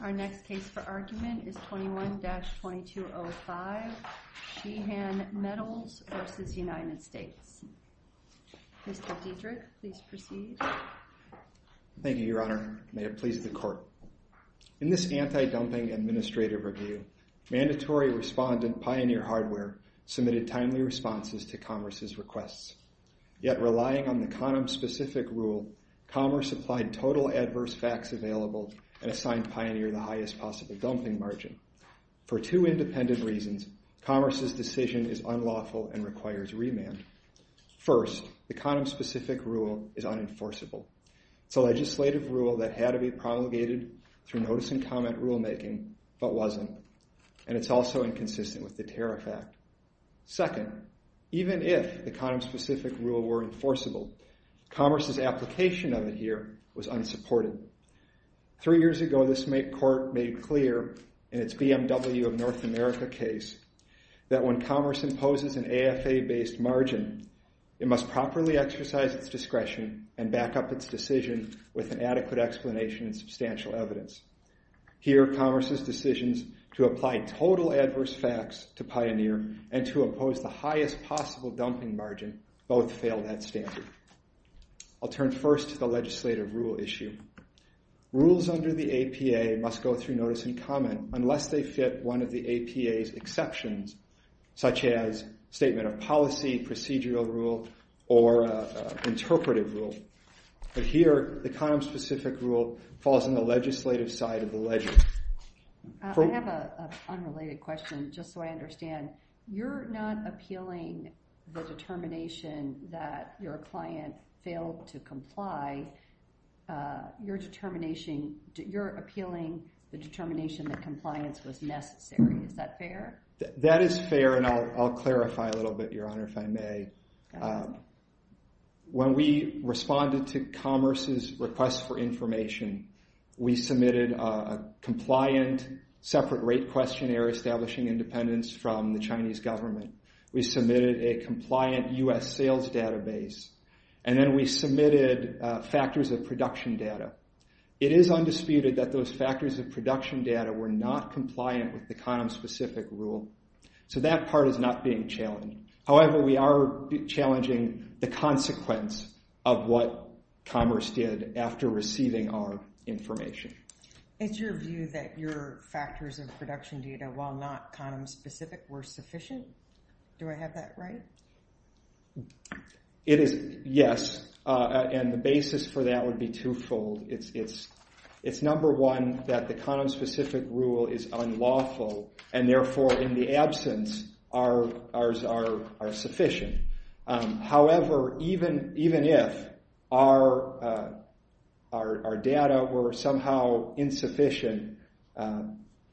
Our next case for argument is 21-2205 Sheehan Metals v. United States. Mr. Diedrich, please proceed. Thank you, Your Honor. May it please the Court. In this anti-dumping administrative review, mandatory respondent Pioneer Hardware submitted timely responses to Commerce's requests. Yet, relying on the condom-specific rule, Commerce applied total adverse facts available and assigned Pioneer the highest possible dumping margin. For two independent reasons, Commerce's decision is unlawful and requires remand. First, the condom-specific rule is unenforceable. It's a legislative rule that had to be promulgated through notice-and-comment rulemaking, but wasn't. And it's also inconsistent with the here was unsupported. Three years ago, this Court made clear in its BMW of North America case that when Commerce imposes an AFA-based margin, it must properly exercise its discretion and back up its decision with an adequate explanation and substantial evidence. Here, Commerce's decisions to apply total adverse facts to Pioneer and to impose the highest possible dumping margin both fail that standard. I'll turn first to the legislative rule issue. Rules under the APA must go through notice-and-comment unless they fit one of the APA's exceptions, such as statement of policy, procedural rule, or interpretive rule. But here, the condom-specific rule falls on the legislative side of the ledger. I have an unrelated question, just so I understand. You're not appealing the determination that your client failed to comply. You're appealing the determination that compliance was necessary. Is that fair? That is fair, and I'll clarify a little bit, Your Honor, if I may. When we responded to Commerce's request for information, we submitted a compliant separate rate questionnaire establishing independence from the Chinese government. We submitted a compliant U.S. sales database, and then we submitted factors of production data. It is undisputed that those factors of production data were not compliant with the condom-specific rule. So that part is not being challenged. However, we are challenging the consequence of what Commerce did after receiving our information. It's your view that your factors of production data, while not condom-specific, were sufficient? Do I have that right? It is, yes, and the basis for that would be twofold. It's number one that the condom-specific rule is unlawful, and therefore, in the absence, ours are sufficient. However, even if our data were somehow insufficient,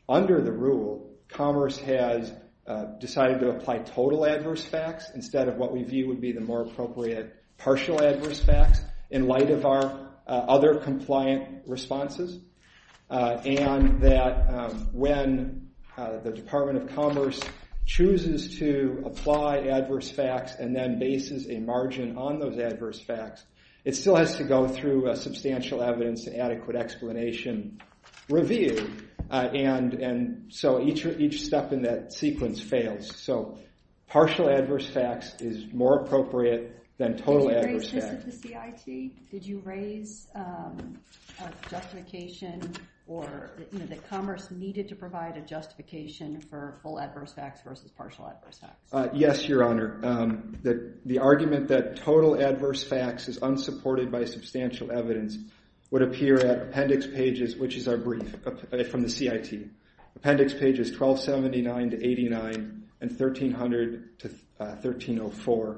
under the rule, Commerce has decided to apply total adverse facts instead of what we view would be the more appropriate partial adverse facts in light of our other compliant responses, and that when the Department of Commerce chooses to apply adverse facts and then bases a margin on those adverse facts, it still has to go through substantial evidence and adequate explanation review, and so each step in that sequence fails. So partial adverse facts is more appropriate than total adverse facts. Did you raise this at the CIT? Did you raise a justification that Commerce needed to provide a justification for full adverse facts versus partial adverse facts? Yes, Your Honor. The argument that total adverse facts is unsupported by substantial evidence would appear at appendix pages, which are 9 and 1300 to 1304.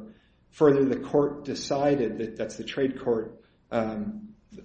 Further, the court decided that, that's the trade court,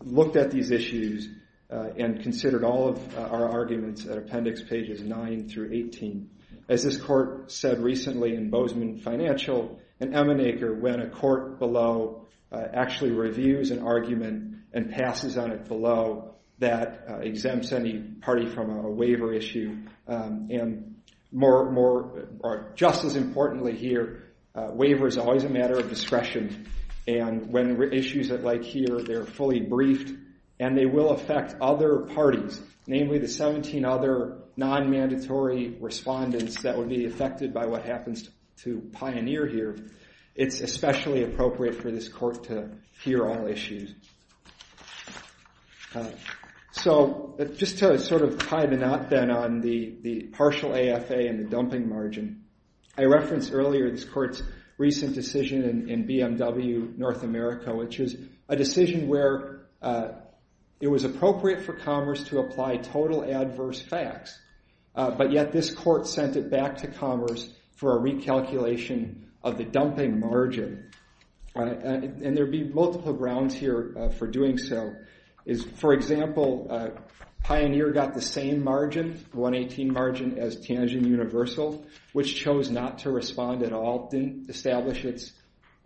looked at these issues and considered all of our arguments at appendix pages 9 through 18. As this court said recently in Bozeman Financial and Emineker, when a court below actually reviews an argument and passes on it below, that exempts any party from a waiver issue, and more just as importantly here, waiver is always a matter of discretion, and when issues like here, they're fully briefed and they will affect other parties, namely the 17 other non-mandatory respondents that would be affected by what happens to Pioneer here, it's especially appropriate for this court to consider all issues. So just to sort of tie the knot then on the partial AFA and the dumping margin, I referenced earlier this court's recent decision in BMW North America, which is a decision where it was appropriate for Commerce to apply total adverse facts, but yet this court sent it back to Commerce for a recalculation of the dumping margin, and there'd be multiple grounds here for doing so. For example, Pioneer got the same margin, 118 margin, as Tianjin Universal, which chose not to respond at all, didn't establish its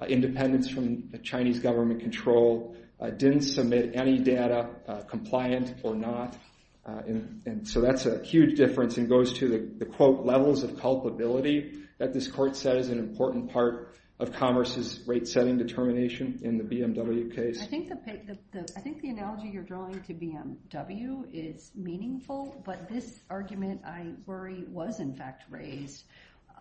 independence from the Chinese government control, didn't submit any data compliant or not, and so that's a huge difference and goes to the, quote, levels of culpability that this court said is an important part of Commerce's rate setting determination in the BMW case. I think the analogy you're drawing to BMW is meaningful, but this argument, I worry, was in fact raised.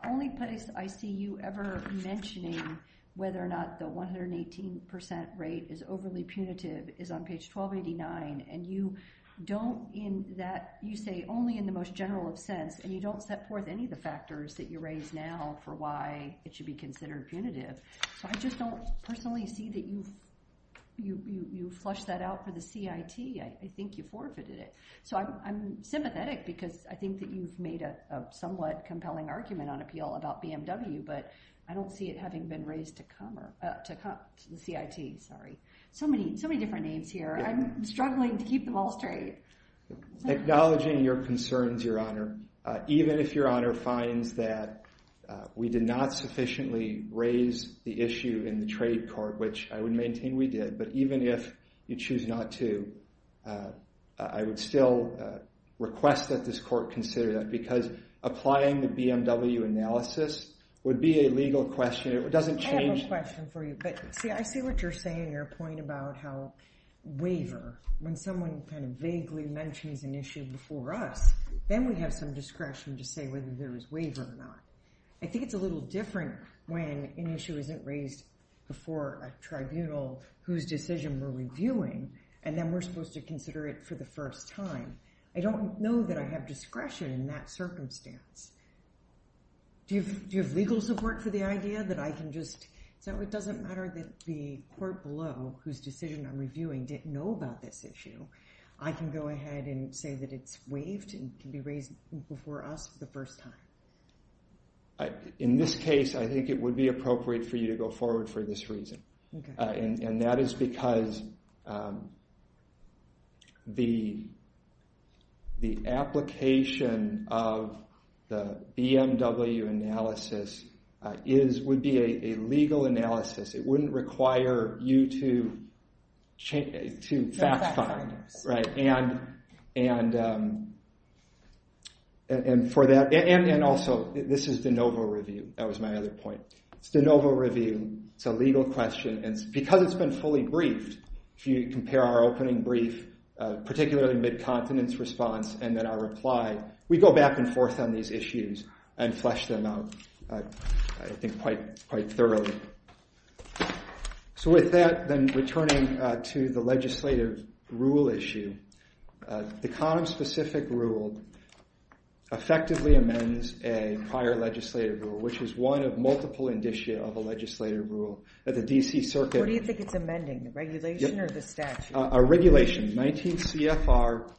Only place I see you ever mentioning whether or not the 118% rate is overly punitive is on page 1289, and you don't in that, you say only in the most general of sense, and you don't set forth any of the factors that you raise now for why it should be considered punitive, so I just don't personally see that you flush that out for the CIT. I think you forfeited it, so I'm sympathetic because I think that you've made a somewhat compelling argument on appeal about BMW, but I don't see it having been raised to the CIT. Sorry, so many different names here. I'm struggling to keep them all straight. Acknowledging your concerns, Your Honor, even if Your Honor finds that we did not sufficiently raise the issue in the trade court, which I would maintain we did, but even if you choose not to, I would still request that this court consider that because applying the BMW analysis would be a legal question. It doesn't change. I have a question for you, but see, I see what you're saying, your point about how waiver, when someone kind of vaguely mentions an issue before us, then we have some discretion to say whether there was waiver or not. I think it's a little different when an issue isn't raised before a tribunal whose decision we're reviewing, and then we're supposed to consider it for the first time. I don't know that I have discretion in that circumstance. Do you have legal support for the idea that I can just, so it doesn't matter that the court below, whose decision I'm reviewing, didn't know about this issue, I can go ahead and say that it's waived and can be raised before us for the first time? In this case, I think it would be appropriate for you to go forward for this reason, and that is because the application of the BMW analysis would be a legal analysis. It wouldn't require you to fact find, and also, this is de novo review. That was my other point. It's de novo review. It's a legal question, and because it's been fully briefed, if you compare our opening brief, particularly mid-continence response, and then our reply, we go back and forth on these issues and flesh them out, I think, quite thoroughly. With that, then, returning to the legislative rule issue, the condom-specific rule effectively amends a prior legislative rule, which is one of multiple indicia of a legislative rule that the D.C. Circuit- What do you think it's amending, the regulation or the statute? A regulation, 19 CFR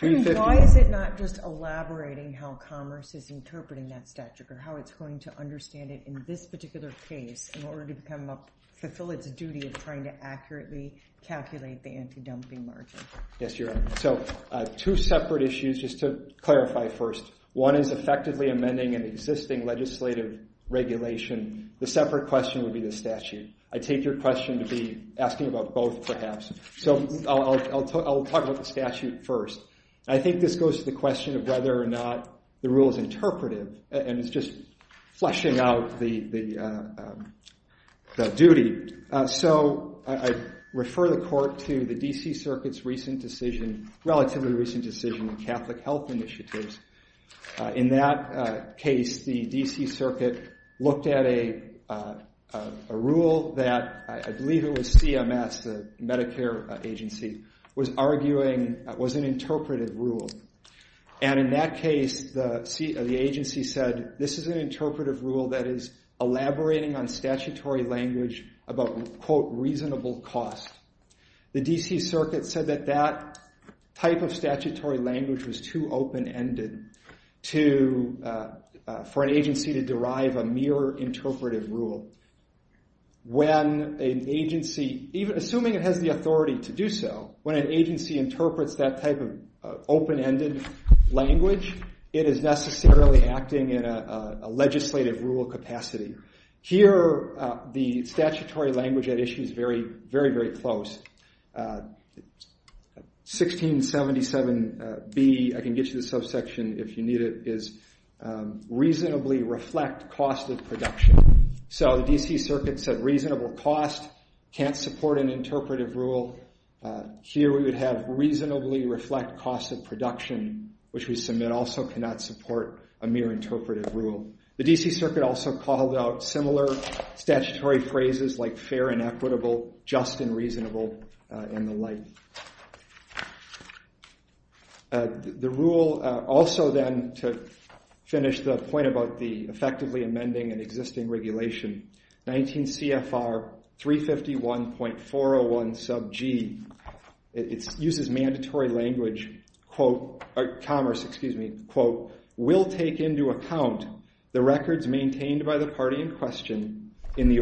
350- Why is it not just elaborating how commerce is interpreting that statute, or how it's going to understand it in this particular case in order to fulfill its duty of trying to accurately calculate the anti-dumping margin? Yes, Your Honor. Two separate issues, just to clarify first. One is effectively amending an existing legislative regulation. The separate question would be the statute. I take your question to be asking about both, perhaps. I'll talk about the statute first. I think this goes to the question of whether or not the rule is interpretive, and it's just fleshing out the duty. I refer the Court to the D.C. Circuit's recent decision, relatively recent decision in Catholic Health Initiatives. In that case, the D.C. Circuit looked at a rule that, I believe it was CMS, the Medicare agency, was arguing was an interpretive rule. In that case, the agency said, this is an interpretive rule that is elaborating on statutory language about, quote, reasonable cost. The D.C. Circuit said that that type of statutory language was too open-ended for an agency to derive a mere interpretive rule. Assuming it has the authority to do so, when an agency interprets that type of open-ended language, it is necessarily acting in a legislative rule capacity. Here, the statutory language at issue is very, very, very close. 1677B, I can get you the subsection if you need it, is reasonably reflect cost of production. So, the D.C. Circuit said reasonable cost can't support an interpretive rule. Here, we would have reasonably reflect cost of production, which we submit also cannot support a mere interpretive rule. The D.C. Circuit also called out similar statutory phrases like fair and equitable, just and reasonable, and the like. The rule, also then to finish the point about the effectively amending an existing regulation, 19 CFR 351.401 sub G, it uses mandatory language, quote, or commerce, excuse me, quote, will take into account the records maintained by the party in question in the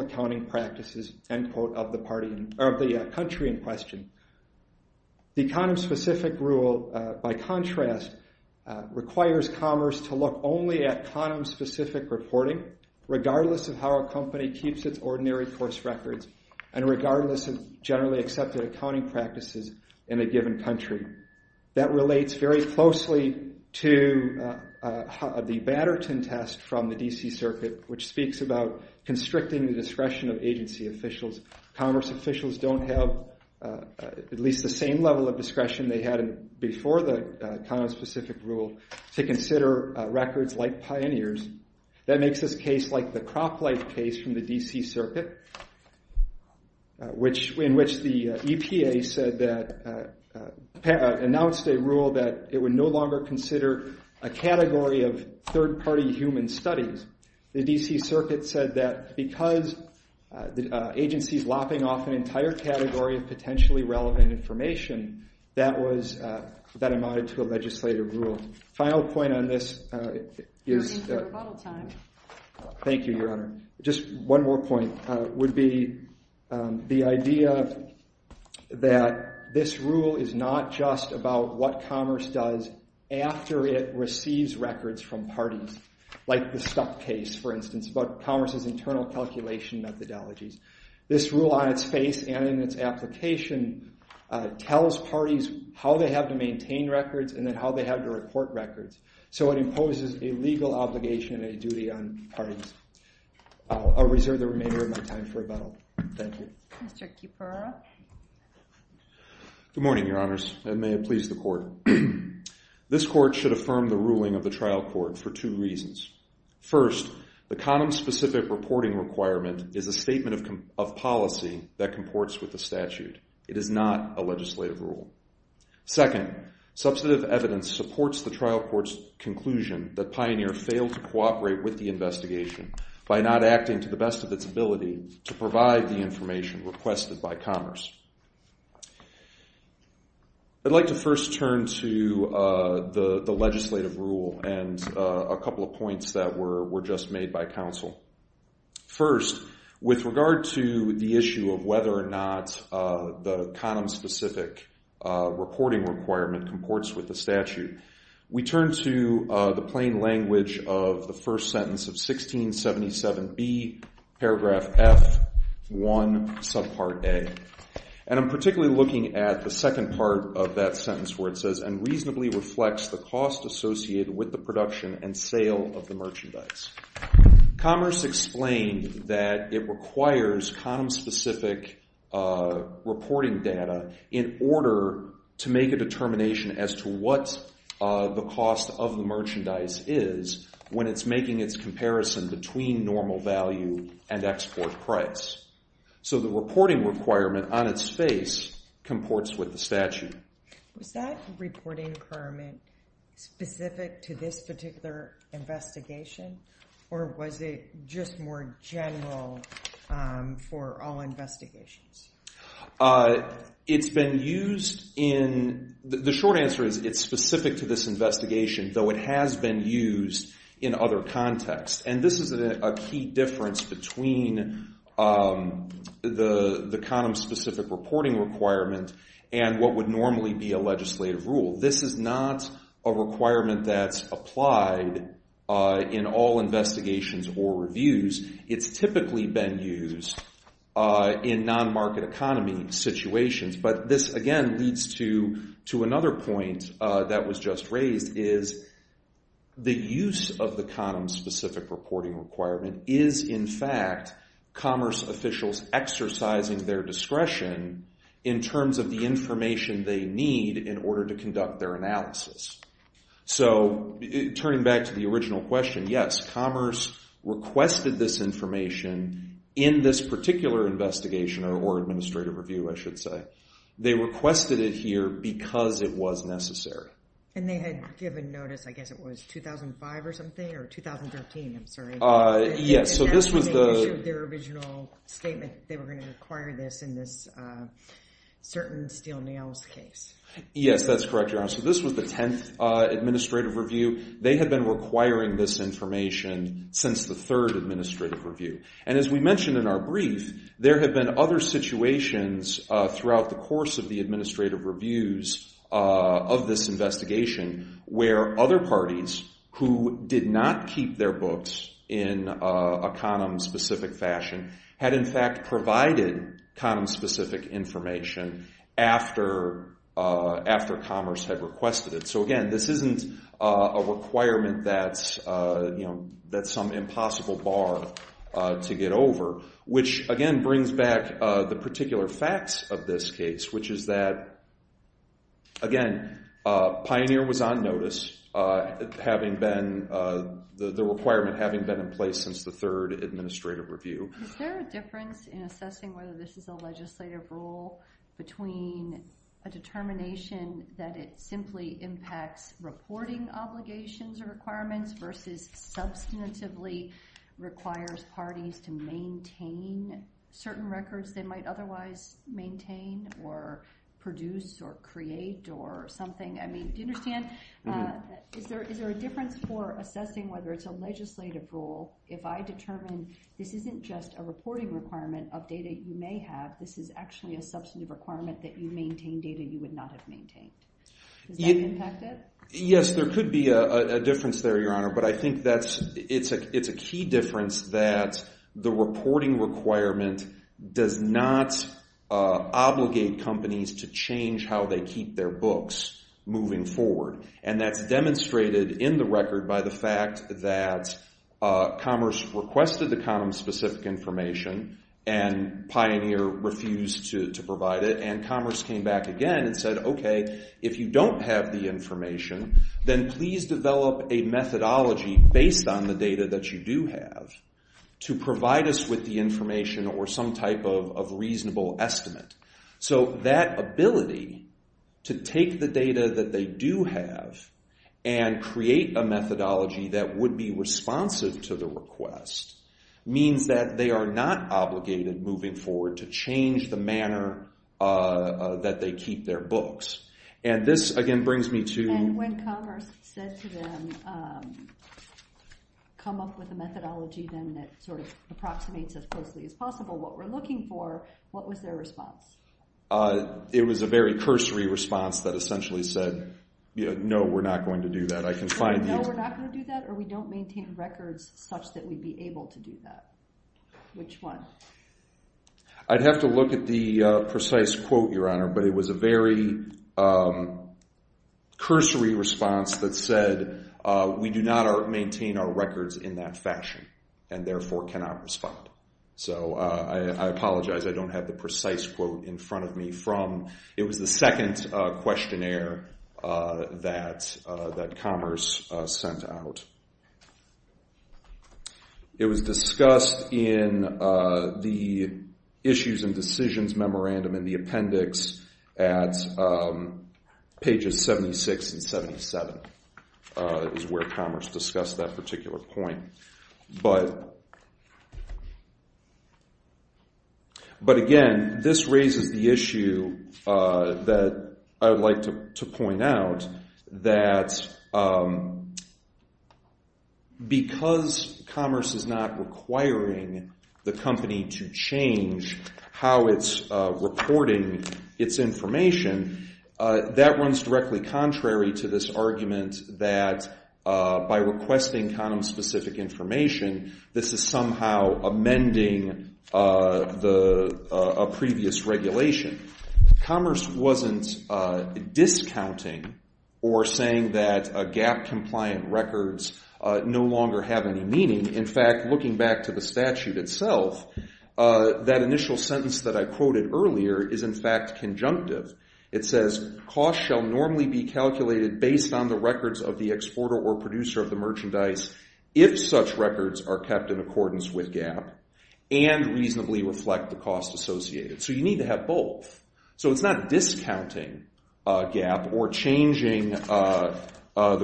accounting practices, end quote, of the country in question. The condom-specific rule, by contrast, requires commerce to look only at condom-specific reporting, regardless of how a company keeps its ordinary course records, and regardless of generally accepted accounting practices in a given country. That relates very closely to the Batterton test from the D.C. Circuit, which speaks about constricting the discretion of agency officials. Commerce officials don't have at least the same level of discretion they had before the condom-specific rule to consider records like Pioneer's. That makes this case like the Crop Life case from the D.C. Circuit, in which the EPA announced a rule that it would no longer consider a category of information. The D.C. Circuit said that because the agency's lopping off an entire category of potentially relevant information, that was, that amounted to a legislative rule. Final point on this is, thank you, Your Honor, just one more point, would be the idea that this rule is not just about what commerce does after it receives records from parties, like the Stuck case, for instance, about commerce's internal calculation methodologies. This rule on its face and in its application tells parties how they have to maintain records and then how they have to report records, so it imposes a legal obligation and a duty on parties. I'll reserve the remainder of my time for Mr. Kupera. Good morning, Your Honors, and may it please the Court. This Court should affirm the ruling of the trial court for two reasons. First, the condom-specific reporting requirement is a statement of policy that comports with the statute. It is not a legislative rule. Second, substantive evidence supports the trial court's conclusion that Pioneer failed to cooperate with the investigation by not acting to the best of its ability to provide the information requested by commerce. I'd like to first turn to the legislative rule and a couple of points that were just made by counsel. First, with regard to the issue of whether or not the condom-specific reporting requirement comports with the statute, we turn to the plain language of the first sentence of 1677B, paragraph F1, subpart A, and I'm particularly looking at the second part of that sentence where it says, and reasonably reflects the cost associated with the production and sale of the merchandise. Commerce explained that it requires condom-specific reporting data in order to make a determination as to what the cost of the merchandise is when it's making its comparison between normal value and export price. So the reporting requirement on its face comports with the statute. Was that reporting requirement specific to this particular investigation, or was it just more general for all investigations? It's been used in, the short answer is it's specific to this investigation, though it has been used in other contexts, and this is a key difference between the condom-specific reporting requirement and what would normally be a standard in all investigations or reviews. It's typically been used in non-market economy situations, but this, again, leads to another point that was just raised, is the use of the condom-specific reporting requirement is, in fact, commerce officials exercising their discretion in terms of the information they need in order to conduct their analysis. So, turning back to the original question, yes, commerce requested this information in this particular investigation or administrative review, I should say. They requested it here because it was necessary. And they had given notice, I guess it was 2005 or something, or 2013, I'm sorry. Yes, so this was the... And that's when they issued their original statement, they were going to require this in this certain steel nails case. Yes, that's correct, so this was the 10th administrative review. They had been requiring this information since the third administrative review. And as we mentioned in our brief, there have been other situations throughout the course of the administrative reviews of this investigation where other parties who did not keep their books in a condom-specific fashion had, in fact, provided condom-specific information after commerce had requested it. So, again, this isn't a requirement that's some impossible bar to get over, which, again, brings back the particular facts of this case, which is that, again, Pioneer was on notice, the requirement having been in since the third administrative review. Is there a difference in assessing whether this is a legislative rule between a determination that it simply impacts reporting obligations or requirements versus substantively requires parties to maintain certain records they might otherwise maintain or produce or create or something? I mean, do you understand? Is there a difference for assessing whether it's a legislative rule if I determine this isn't just a reporting requirement of data you may have, this is actually a substantive requirement that you maintain data you would not have maintained? Does that impact it? Yes, there could be a difference there, Your Honor, but I think it's a key difference that the reporting requirement does not obligate companies to change how they keep their books moving forward, and that's demonstrated in the record by the fact that Commerce requested the condom-specific information and Pioneer refused to provide it, and Commerce came back again and said, okay, if you don't have the information, then please develop a methodology based on the data that you do have to provide us with the information or some type of reasonable estimate. So that ability to take the data that they do have and create a methodology that would be responsive to the request means that they are not obligated moving forward to change the manner that they keep their books, and this again brings me to... And when Commerce said to them, come up with a methodology then that sort of approximates as closely as possible what we're looking for, what was their cursory response that essentially said, no, we're not going to do that. I can find these. No, we're not going to do that or we don't maintain records such that we'd be able to do that. Which one? I'd have to look at the precise quote, Your Honor, but it was a very cursory response that said, we do not maintain our records in that fashion and therefore cannot respond. So I apologize, I don't have the precise quote in front of me from... It was the second questionnaire that Commerce sent out. It was discussed in the Issues and Decisions Memorandum in the appendix at pages 76 and 77 is where Commerce discussed that particular point. But again, this raises the issue that I would like to point out that because Commerce is not requiring the company to change how it's reporting its information, that runs directly contrary to this argument that by requesting condom-specific information, this is somehow amending a previous regulation. Commerce wasn't discounting or saying that GAP-compliant records no longer have any meaning. In fact, looking back to the statute itself, that initial sentence that I quoted earlier is in fact conjunctive. It says, costs shall normally be calculated based on the records of the exporter or producer of the merchandise if such records are kept in accordance with GAP and reasonably reflect the costs associated. So you need to have both. So it's not discounting GAP or changing the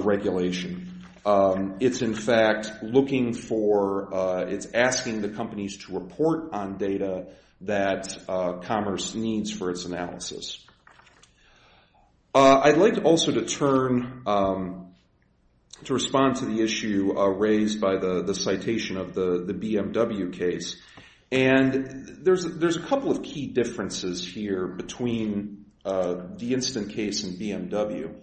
regulation. It's in fact looking for... It's asking the companies to report on data that Commerce needs for its analysis. I'd like also to turn to respond to the issue raised by the citation of the BMW case. And there's a couple of key differences here between the instant case and BMW.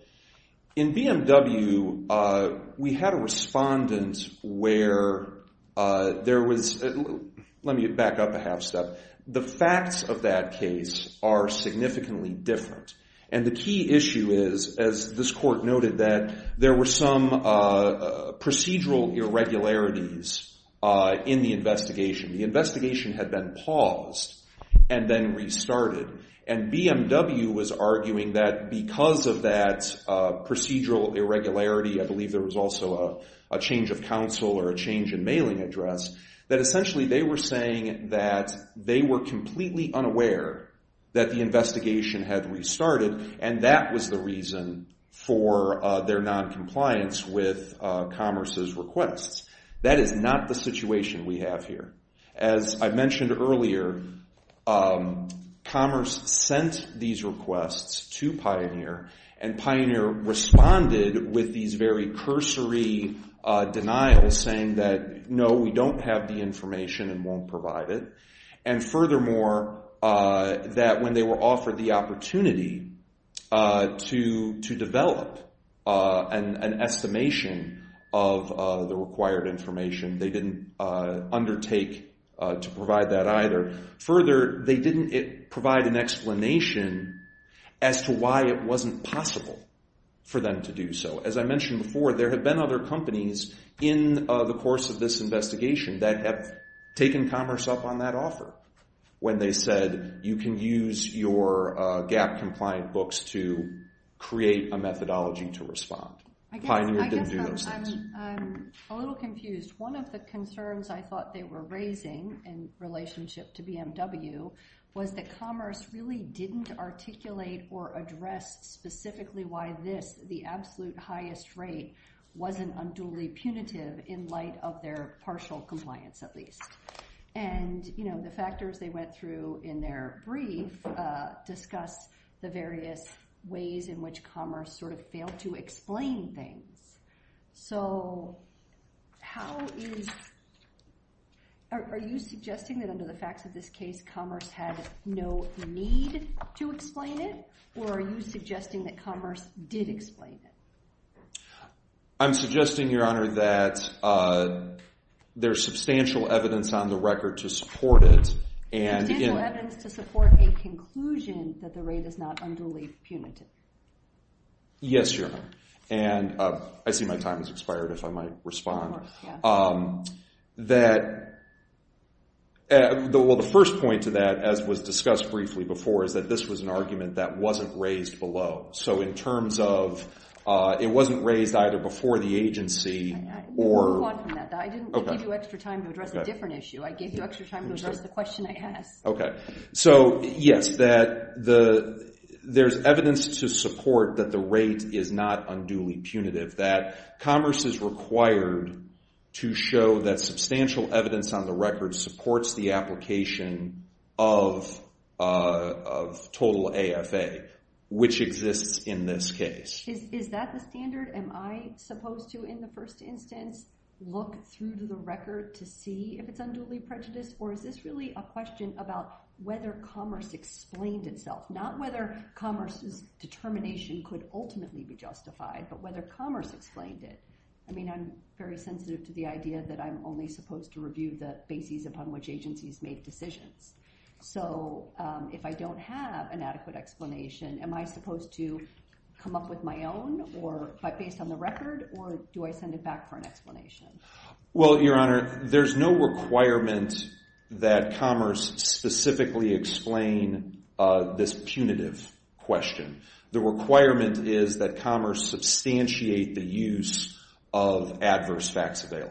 In BMW, we had a respondent where there was... Let me back up a half step. The facts of that case are significantly different. And the key issue is, as this court noted, that there were some procedural irregularities in the investigation. The investigation had been paused and then restarted. And BMW was arguing that because of that procedural irregularity, I believe there was also a change of counsel or a change in mailing address, that essentially they were saying that they were completely unaware that the investigation had restarted and that was the reason for their noncompliance with Commerce's requests. That is not the situation we have here. As I mentioned earlier, Commerce sent these requests to Pioneer and Pioneer responded with these very cursory denials saying that, no, we don't have the information and won't provide it. And furthermore, that when they offered the opportunity to develop an estimation of the required information, they didn't undertake to provide that either. Further, they didn't provide an explanation as to why it wasn't possible for them to do so. As I mentioned before, there have been other companies in the course of this gap-compliant books to create a methodology to respond. Pioneer didn't do those things. I'm a little confused. One of the concerns I thought they were raising in relationship to BMW was that Commerce really didn't articulate or address specifically why this, the absolute highest rate, wasn't unduly punitive in light of their partial compliance, at least. And, you know, the factors they went through in their brief discuss the various ways in which Commerce sort of failed to explain things. So, how is, are you suggesting that under the facts of this case Commerce had no need to explain it or are you suggesting that Commerce did explain it? I'm suggesting, Your Honor, that there's substantial evidence on the record to support it. Substantial evidence to support a conclusion that the rate is not unduly punitive. Yes, Your Honor. And I see my time has expired if I might respond. Well, the first point to that, as was discussed briefly before, is that this was an argument that wasn't raised either before the agency or... Move on from that. I didn't give you extra time to address a different issue. I gave you extra time to address the question I asked. Okay. So, yes, that there's evidence to support that the rate is not unduly punitive, that Commerce is required to show that substantial evidence on the record supports the application of total AFA, which exists in this case. Is that the standard? Am I supposed to, in the first instance, look through the record to see if it's unduly prejudiced or is this really a question about whether Commerce explained itself? Not whether Commerce's determination could ultimately be justified, but whether Commerce explained it. I mean, I'm very sensitive to the idea that I'm only supposed to review the basis upon which agencies made decisions. So if I don't have an adequate explanation, am I supposed to come up with my own based on the record or do I send it back for an explanation? Well, Your Honor, there's no requirement that Commerce specifically explain this punitive question. The requirement is that Commerce substantiate the use of adverse facts Okay.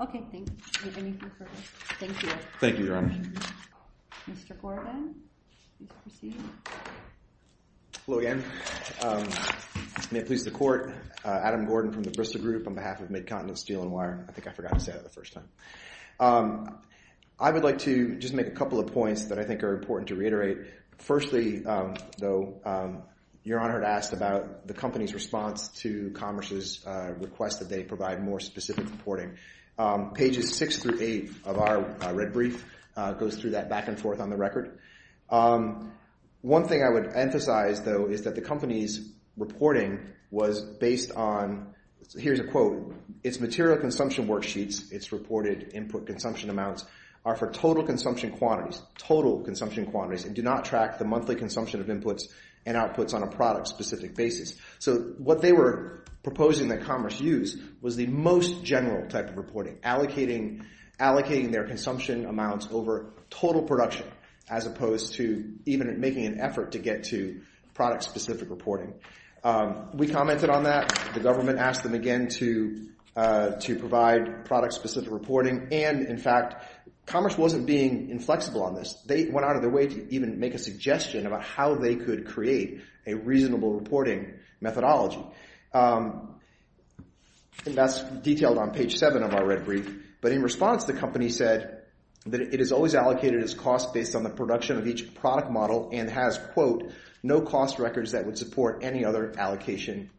Okay. Thank you. Thank you, Your Honor. Mr. Gordon. Hello again. May it please the Court. Adam Gordon from the Bristol Group on behalf of Midcontinent Steel and Wire. I think I forgot to say that the first time. I would like to just make a couple of points that I think are important to reiterate. Firstly, though, Your Honor had asked about the company's response to Commerce's request that they provide more specific reporting. Pages 6 through 8 of our red brief goes through that back and forth on the record. One thing I would emphasize, though, is that the company's reporting was based on, here's a quote, its material consumption worksheets, its reported input consumption amounts are for total consumption quantities, total consumption quantities, and do not track the monthly consumption of inputs and outputs on a product-specific basis. So what they were the most general type of reporting, allocating their consumption amounts over total production as opposed to even making an effort to get to product-specific reporting. We commented on that. The government asked them again to provide product-specific reporting and, in fact, Commerce wasn't being inflexible on this. They went out of their way to even make a suggestion about how they could create a reasonable reporting methodology. That's detailed on page 7 of our red brief. But in response, the company said that it has always allocated its cost based on the production of each product model and has, quote, no cost records that would support any other allocation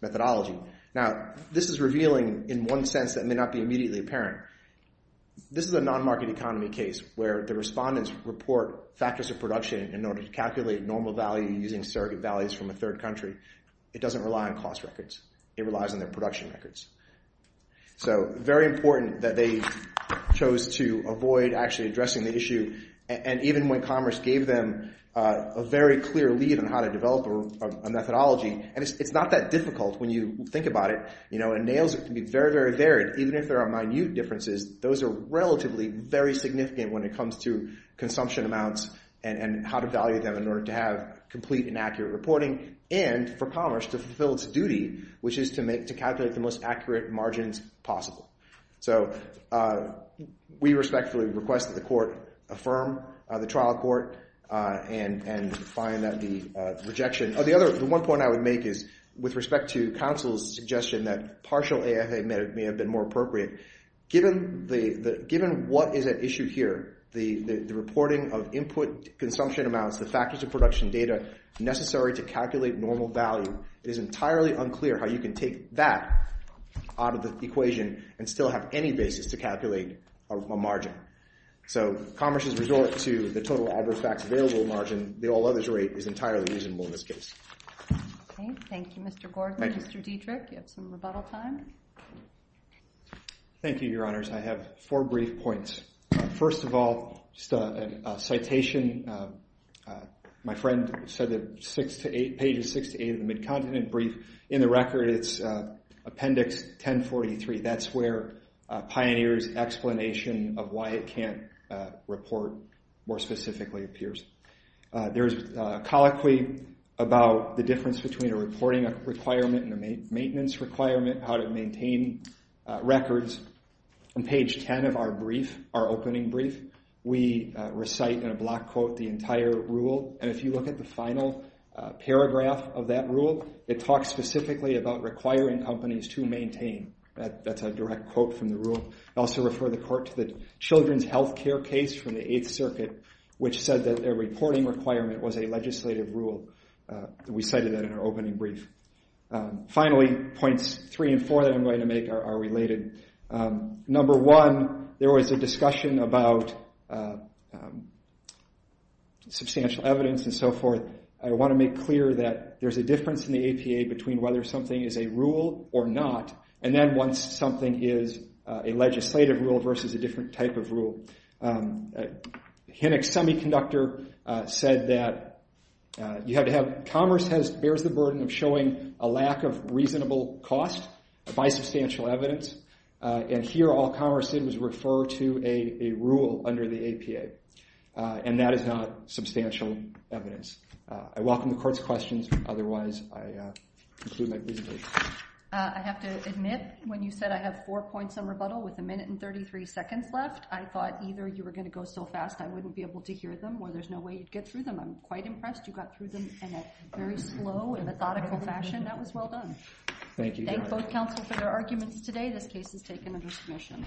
methodology. Now, this is revealing in one sense that may not be immediately apparent. This is a non-market economy case where the respondents report factors of production in calculating normal value using surrogate values from a third country. It doesn't rely on cost records. It relies on their production records. So very important that they chose to avoid actually addressing the issue. And even when Commerce gave them a very clear lead on how to develop a methodology, and it's not that difficult when you think about it, you know, it can be very, very varied. Even if there are minute differences, those are relatively very significant when it in order to have complete and accurate reporting, and for Commerce to fulfill its duty, which is to calculate the most accurate margins possible. So we respectfully request that the court affirm the trial court and find that the rejection. The one point I would make is with respect to counsel's suggestion that partial AFA may have been more appropriate. Given what is at issue here, the reporting of input consumption amounts, the factors of production data necessary to calculate normal value, it is entirely unclear how you can take that out of the equation and still have any basis to calculate a margin. So Commerce's resort to the total adverse facts available margin, the all others rate is entirely reasonable in this case. Okay. Thank you, Mr. Gordon. Mr. Dietrich, you have some rebuttal time. Thank you, Your Honors. I have four brief points. First of all, a citation. My friend said that six to eight pages, six to eight of the Mid-Continent Brief in the record, it's Appendix 1043. That's where Pioneer's explanation of why it can't report more specifically appears. There's a colloquy about the difference between a reporting requirement and a maintenance requirement, how to maintain records. On page 10 of our opening brief, we recite in a block quote the entire rule. And if you look at the final paragraph of that rule, it talks specifically about requiring companies to maintain. That's a direct quote from the rule. I also refer the court to the children's health care case from the Eighth Circuit, which said that their reporting requirement was a legislative rule. We cited that in our opening brief. Finally, points three and four that I'm going to make are related. Number one, there was a discussion about substantial evidence and so forth. I want to make clear that there's a difference in the APA between whether something is a rule or not. And then once something is a legislative rule versus a different type of rule. Hennig's Semiconductor said that commerce bears the burden of showing a lack of reasonable cost by substantial evidence. And here, all commerce did was refer to a rule under the APA. And that is not substantial evidence. I welcome the court's questions. Otherwise, I conclude my presentation. I have to admit, when you said I have four points on I thought either you were going to go so fast I wouldn't be able to hear them or there's no way you'd get through them. I'm quite impressed you got through them in a very slow and methodical fashion. That was well done. Thank you. Thank both counsel for their arguments today. This case is taken under submission.